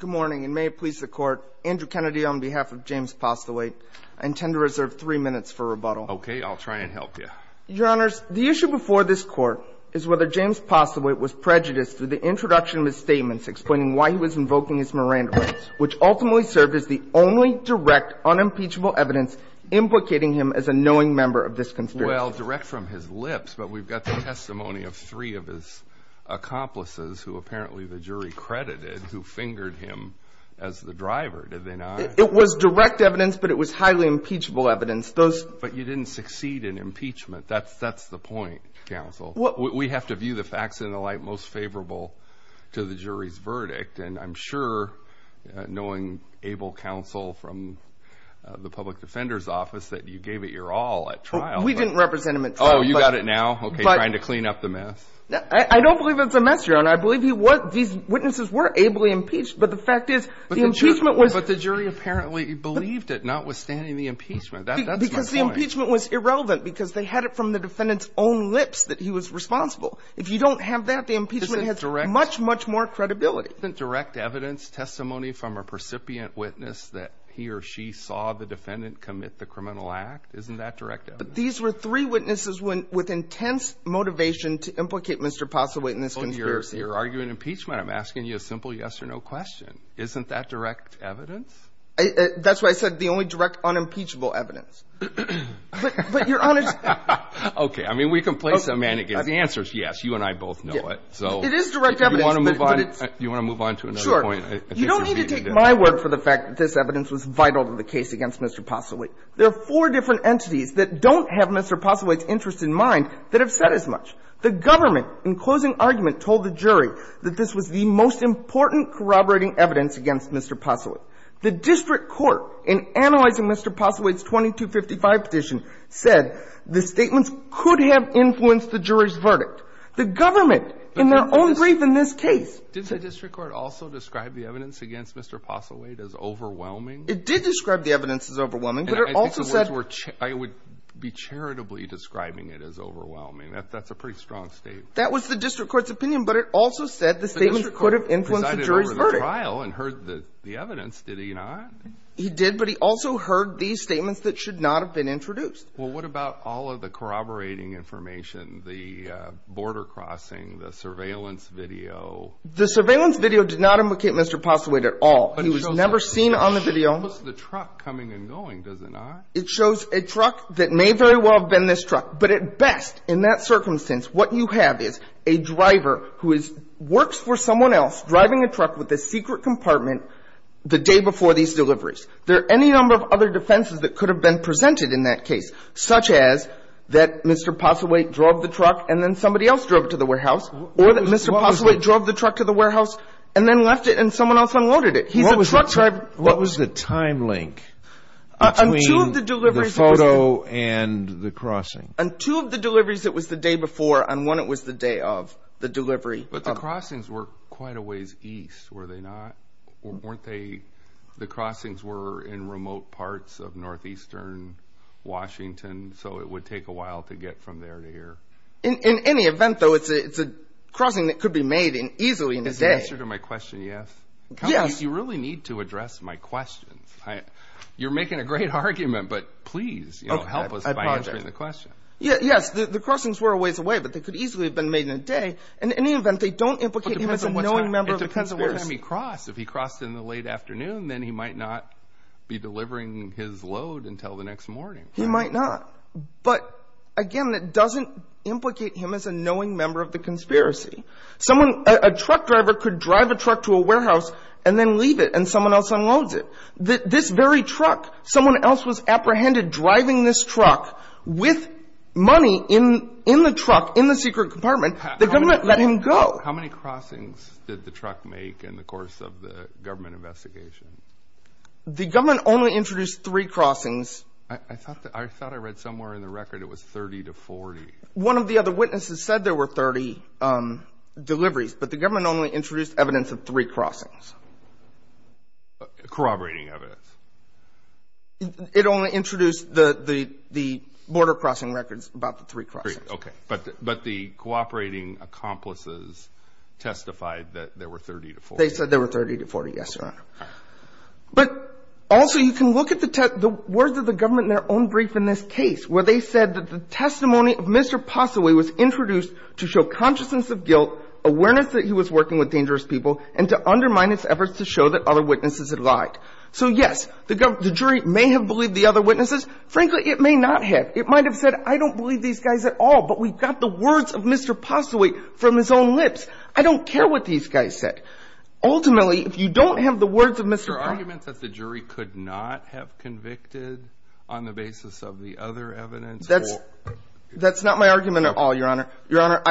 Good morning, and may it please the Court, Andrew Kennedy on behalf of James Postlethwaite. I intend to reserve three minutes for rebuttal. Okay, I'll try and help you. Your Honors, the issue before this Court is whether James Postlethwaite was prejudiced through the introduction of his statements explaining why he was invoking his Miranda rights, which ultimately served as the only direct, unimpeachable evidence implicating him as a knowing member of this conspiracy. Well, direct from his lips, but we've got the testimony of three of his accomplices who apparently the jury credited who fingered him as the driver. Did they not? It was direct evidence, but it was highly impeachable evidence. But you didn't succeed in impeachment. That's the point, Counsel. We have to view the facts in the light most favorable to the jury's verdict, and I'm sure, knowing able counsel from the Public Defender's Office, that you gave it your all at trial. We didn't represent him at trial. Oh, you got it now? Okay, trying to clean up the mess. I don't believe it's a mess, Your Honor. I believe he was – these witnesses were ably impeached, but the fact is the impeachment was – But the jury apparently believed it, notwithstanding the impeachment. That's my point. Because the impeachment was irrelevant because they had it from the defendant's own lips that he was responsible. If you don't have that, the impeachment has much, much more credibility. Isn't direct evidence testimony from a precipient witness that he or she saw the defendant commit the criminal act? Isn't that direct evidence? But these were three witnesses with intense motivation to implicate Mr. Possilwate in this conspiracy. You're arguing impeachment. I'm asking you a simple yes or no question. Isn't that direct evidence? That's why I said the only direct unimpeachable evidence. But, Your Honor – Okay. I mean, we can play some man against the answers. Yes, you and I both know it. It is direct evidence, but it's – Do you want to move on? Do you want to move on to another point? Sure. You don't need to take my word for the fact that this evidence was vital to the case against Mr. Possilwate. There are four different entities that don't have Mr. Possilwate's interest in mind that have said as much. The government, in closing argument, told the jury that this was the most important corroborating evidence against Mr. Possilwate. The district court, in analyzing Mr. Possilwate's 2255 petition, said the statements could have influenced the jury's verdict. The government, in their own brief in this case – Didn't the district court also describe the evidence against Mr. Possilwate as overwhelming? It did describe the evidence as overwhelming, but it also said – I think the words were – I would be charitably describing it as overwhelming. That's a pretty strong statement. That was the district court's opinion, but it also said the statements could have influenced the jury's verdict. The district court presided over the trial and heard the evidence, did he not? He did, but he also heard these statements that should not have been introduced. Well, what about all of the corroborating information, the border crossing, the surveillance video? The surveillance video did not implicate Mr. Possilwate at all. He was never seen on the video. It shows the truck coming and going, does it not? It shows a truck that may very well have been this truck. But at best, in that circumstance, what you have is a driver who works for someone else driving a truck with a secret compartment the day before these deliveries. There are any number of other defenses that could have been presented in that case, such as that Mr. Possilwate drove the truck and then somebody else drove it to the warehouse, or that Mr. Possilwate drove the truck to the warehouse and then left it and someone else unloaded it. He's a truck driver. What was the time link between the photo and the crossing? Two of the deliveries, it was the day before, and one, it was the day of the delivery. But the crossings were quite a ways east, were they not? Weren't they, the crossings were in remote parts of northeastern Washington, so it would take a while to get from there to here? In any event, though, it's a crossing that could be made easily in a day. Can you answer to my question, yes? Yes. You really need to address my questions. You're making a great argument, but please help us by answering the question. Yes, the crossings were a ways away, but they could easily have been made in a day. In any event, they don't implicate him as a knowing member of the conspiracy. It depends on what time he crossed. If he crossed in the late afternoon, then he might not be delivering his load until the next morning. He might not. But, again, that doesn't implicate him as a knowing member of the conspiracy. Someone, a truck driver could drive a truck to a warehouse and then leave it, and someone else unloads it. This very truck, someone else was apprehended driving this truck with money in the truck, in the secret compartment. The government let him go. How many crossings did the truck make in the course of the government investigation? The government only introduced three crossings. I thought I read somewhere in the record it was 30 to 40. One of the other witnesses said there were 30 deliveries, but the government only introduced evidence of three crossings. Corroborating evidence. It only introduced the border crossing records about the three crossings. Okay. But the cooperating accomplices testified that there were 30 to 40. They said there were 30 to 40, yes, Your Honor. Okay. But also you can look at the words of the government in their own brief in this case where they said that the testimony of Mr. Posseway was introduced to show consciousness of guilt, awareness that he was working with dangerous people, and to undermine its efforts to show that other witnesses had lied. So, yes, the jury may have believed the other witnesses. Frankly, it may not have. It might have said, I don't believe these guys at all, but we've got the words of Mr. Posseway from his own lips. I don't care what these guys said. Ultimately, if you don't have the words of Mr. Posseway. The argument that the jury could not have convicted on the basis of the other evidence or. That's not my argument at all, Your Honor. Your Honor,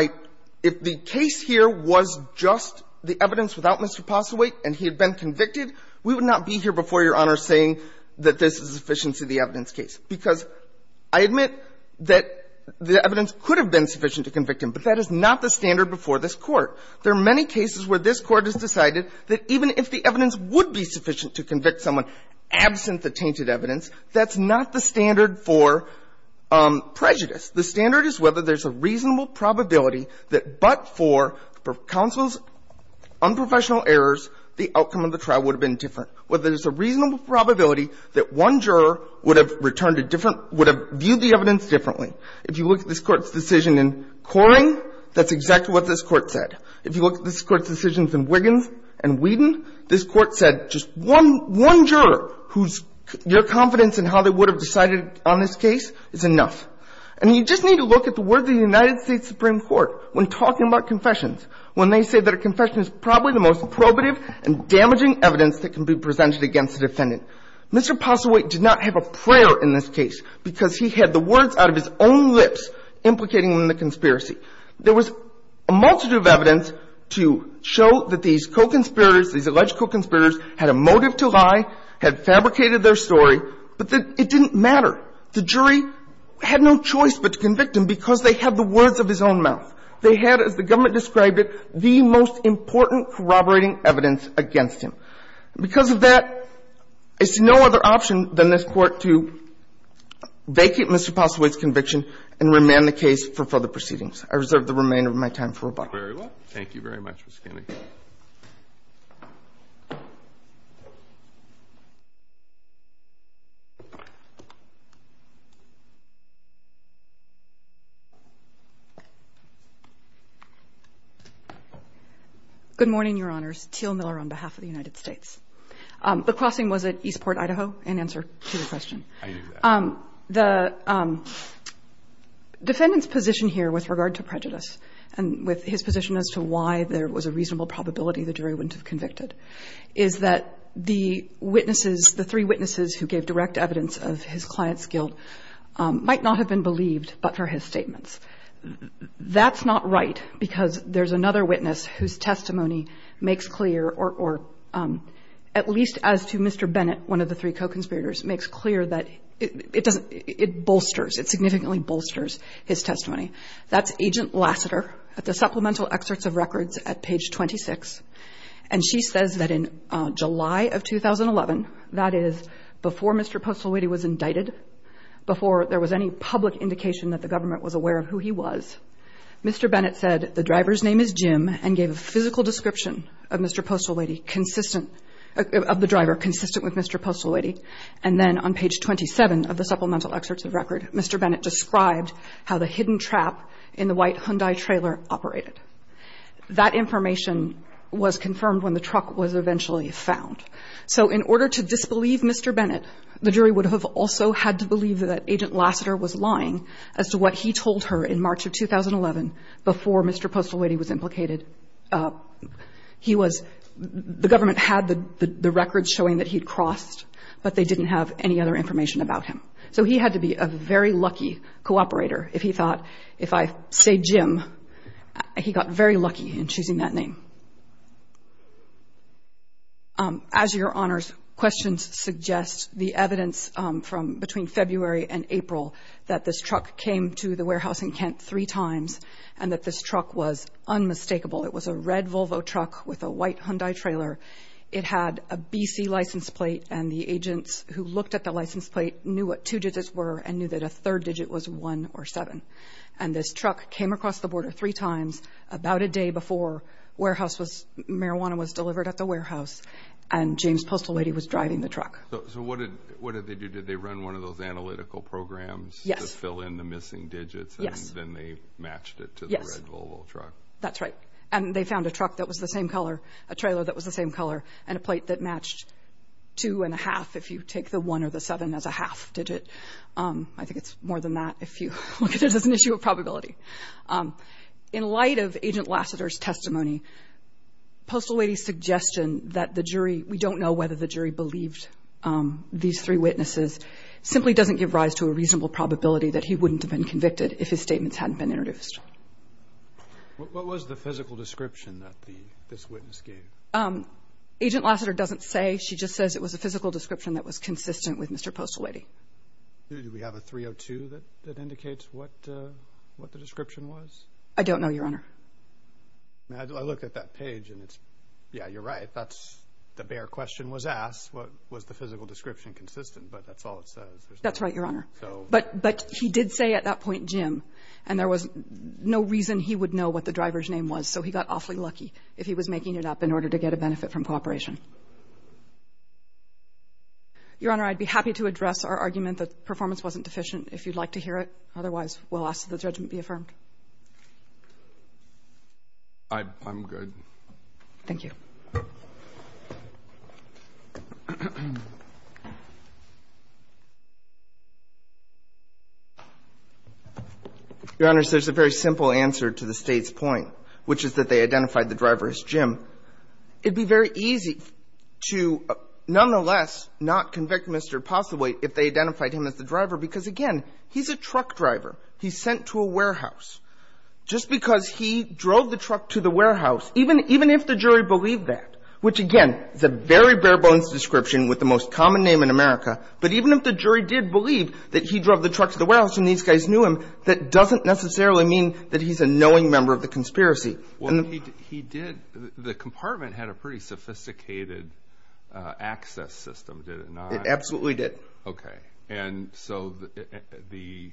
if the case here was just the evidence without Mr. Posseway and he had been convicted, we would not be here before Your Honor saying that this is sufficient to the evidence case, because I admit that the evidence could have been sufficient to convict him, but that is not the standard before this Court. There are many cases where this Court has decided that even if the evidence would be sufficient to convict someone absent the tainted evidence, that's not the standard for prejudice. The standard is whether there's a reasonable probability that but for counsel's unprofessional errors, the outcome of the trial would have been different. Whether there's a reasonable probability that one juror would have returned a different, would have viewed the evidence differently. If you look at this Court's decision in Coring, that's exactly what this Court said. If you look at this Court's decisions in Wiggins and Whedon, this Court said just one juror whose, your confidence in how they would have decided on this case is enough. And you just need to look at the words of the United States Supreme Court when talking about confessions, when they say that a confession is probably the most probative and damaging evidence that can be presented against the defendant. Mr. Posseway did not have a prayer in this case because he had the words out of his own lips implicating him in the conspiracy. There was a multitude of evidence to show that these co-conspirators, these alleged co-conspirators had a motive to lie, had fabricated their story, but that it didn't matter. The jury had no choice but to convict him because they had the words of his own mouth. They had, as the government described it, the most important corroborating evidence against him. Because of that, it's no other option than this Court to vacate Mr. Posseway's I reserve the remainder of my time for rebuttal. Thank you very much, Mr. Kennedy. Good morning, Your Honors. Teal Miller on behalf of the United States. The crossing was at Eastport, Idaho, in answer to your question. I knew that. The defendant's position here with regard to prejudice and with his position as to why there was a reasonable probability the jury wouldn't have convicted is that the witnesses, the three witnesses who gave direct evidence of his client's guilt might not have been believed but for his statements. That's not right because there's another witness whose testimony makes clear, or at least as to Mr. Bennett, one of the three co-conspirators, makes clear that it bolsters, it significantly bolsters his testimony. That's Agent Lassiter at the Supplemental Excerpts of Records at page 26. And she says that in July of 2011, that is before Mr. Posseway was indicted, before there was any public indication that the government was aware of who he was, Mr. Bennett said the driver's name is Jim and gave a physical description of Mr. Posseway. And then on page 27 of the Supplemental Excerpts of Records, Mr. Bennett described how the hidden trap in the white Hyundai trailer operated. That information was confirmed when the truck was eventually found. So in order to disbelieve Mr. Bennett, the jury would have also had to believe that Agent Lassiter was lying as to what he told her in March of 2011 before Mr. Posseway was implicated. He was, the government had the records showing that he'd crossed, but they didn't have any other information about him. So he had to be a very lucky cooperator if he thought, if I say Jim, he got very lucky in choosing that name. As Your Honors, questions suggest the evidence from between February and April that this truck came to the warehouse in Kent three times and that this truck was unmistakable. It was a red Volvo truck with a white Hyundai trailer. It had a BC license plate and the agents who looked at the license plate knew what two digits were and knew that a third digit was one or seven. And this truck came across the border three times about a day before warehouse was, marijuana was delivered at the warehouse and James Postelady was driving the truck. So what did, what did they do? Did they run one of those analytical programs? Yes. To fill in the missing digits? Yes. And then they matched it to the red Volvo truck? Yes. That's right. And they found a truck that was the same color, a trailer that was the same color and a plate that matched two and a half if you take the one or the seven as a half digit. I think it's more than that if you look at it as an issue of probability. In light of Agent Lassiter's testimony, Postelady's suggestion that the jury, we don't know whether the jury believed these three witnesses simply doesn't give rise to a reasonable probability that he wouldn't have been convicted if his statements hadn't been introduced. What was the physical description that this witness gave? Agent Lassiter doesn't say. She just says it was a physical description that was consistent with Mr. Postelady. Do we have a 302 that indicates what the description was? I don't know, Your Honor. I looked at that page and it's, yeah, you're right. That's the bare question was asked. Was the physical description consistent? But that's all it says. That's right, Your Honor. But he did say at that point Jim, and there was no reason he would know what the driver's name was, so he got awfully lucky if he was making it up in order to get a benefit from cooperation. Your Honor, I'd be happy to address our argument that performance wasn't deficient if you'd like to hear it. Otherwise, we'll ask that the judgment be affirmed. I'm good. Thank you. Your Honor, there's a very simple answer to the State's point, which is that they identified the driver as Jim. It would be very easy to nonetheless not convict Mr. Postelady if they identified him as the driver, because, again, he's a truck driver. He's sent to a warehouse. Just because he drove the truck to the warehouse, even if the jury believed that which, again, is a very bare-bones description with the most common name in America, but even if the jury did believe that he drove the truck to the warehouse and these guys knew him, that doesn't necessarily mean that he's a knowing member of the conspiracy. Well, he did. The compartment had a pretty sophisticated access system, did it not? It absolutely did. Okay, and so the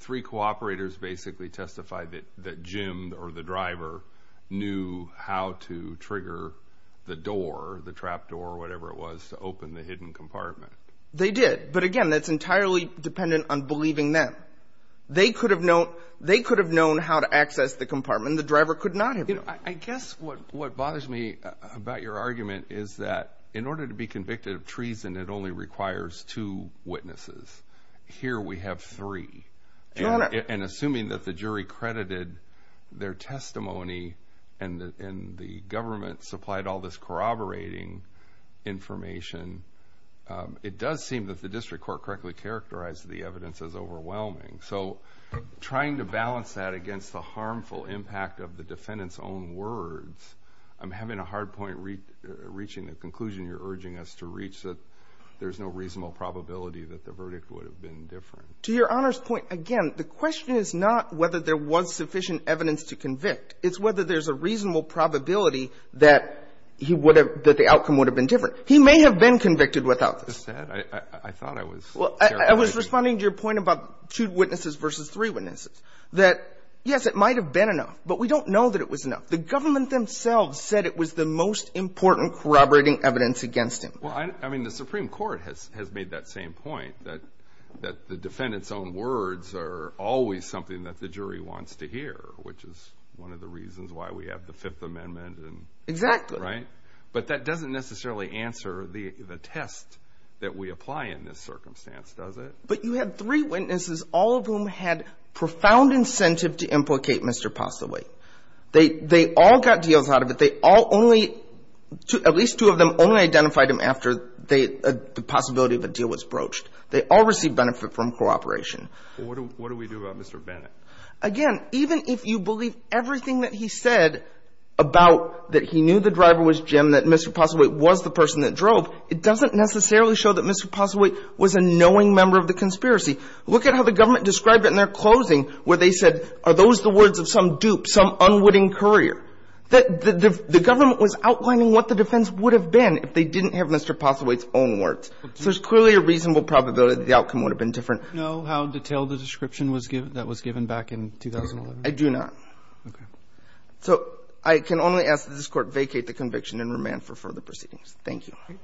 three cooperators basically testified that Jim, or the driver, knew how to trigger the door, the trap door, whatever it was, to open the hidden compartment. They did. But, again, that's entirely dependent on believing them. They could have known how to access the compartment. The driver could not have known. I guess what bothers me about your argument is that in order to be convicted of treason, Here we have three. Your Honor. and assuming that the jury credited their testimony and the government supplied all this corroborating information, it does seem that the district court correctly characterized the evidence as overwhelming. So trying to balance that against the harmful impact of the defendant's own words, I'm having a hard point reaching the conclusion you're urging us to reach, that there's no reasonable probability that the verdict would have been different. To Your Honor's point, again, the question is not whether there was sufficient evidence to convict. It's whether there's a reasonable probability that he would have – that the outcome would have been different. He may have been convicted without this. I thought I was – Well, I was responding to your point about two witnesses versus three witnesses, that, yes, it might have been enough, but we don't know that it was enough. The government themselves said it was the most important corroborating evidence against him. Well, I mean, the Supreme Court has made that same point, that the defendant's own words are always something that the jury wants to hear, which is one of the reasons why we have the Fifth Amendment and – Exactly. Right? But that doesn't necessarily answer the test that we apply in this circumstance, does it? But you had three witnesses, all of whom had profound incentive to implicate Mr. Possilway. They all got deals out of it. They all only – at least two of them only identified him after the possibility of a deal was broached. They all received benefit from cooperation. Well, what do we do about Mr. Bennett? Again, even if you believe everything that he said about that he knew the driver was Jim, that Mr. Possilway was the person that drove, it doesn't necessarily show that Mr. Possilway was a knowing member of the conspiracy. Look at how the government described it in their closing, where they said, are those the words of some dupe, some unwitting courier? The government was outlining what the defense would have been if they didn't have Mr. Possilway's own words. So there's clearly a reasonable probability the outcome would have been different. Do you know how detailed the description was given – that was given back in 2011? I do not. Okay. So I can only ask that this Court vacate the conviction and remand for further proceedings. Thank you. Okay.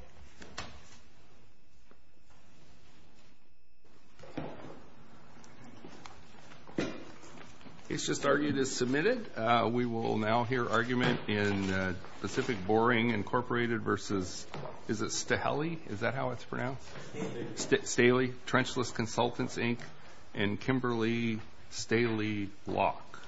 It's just argued as submitted. We will now hear argument in Pacific Boring Incorporated versus – is it Staheli? Is that how it's pronounced? Staheli. Staheli. Trenchless Consultants, Inc., and Kimberly Staheli Locke.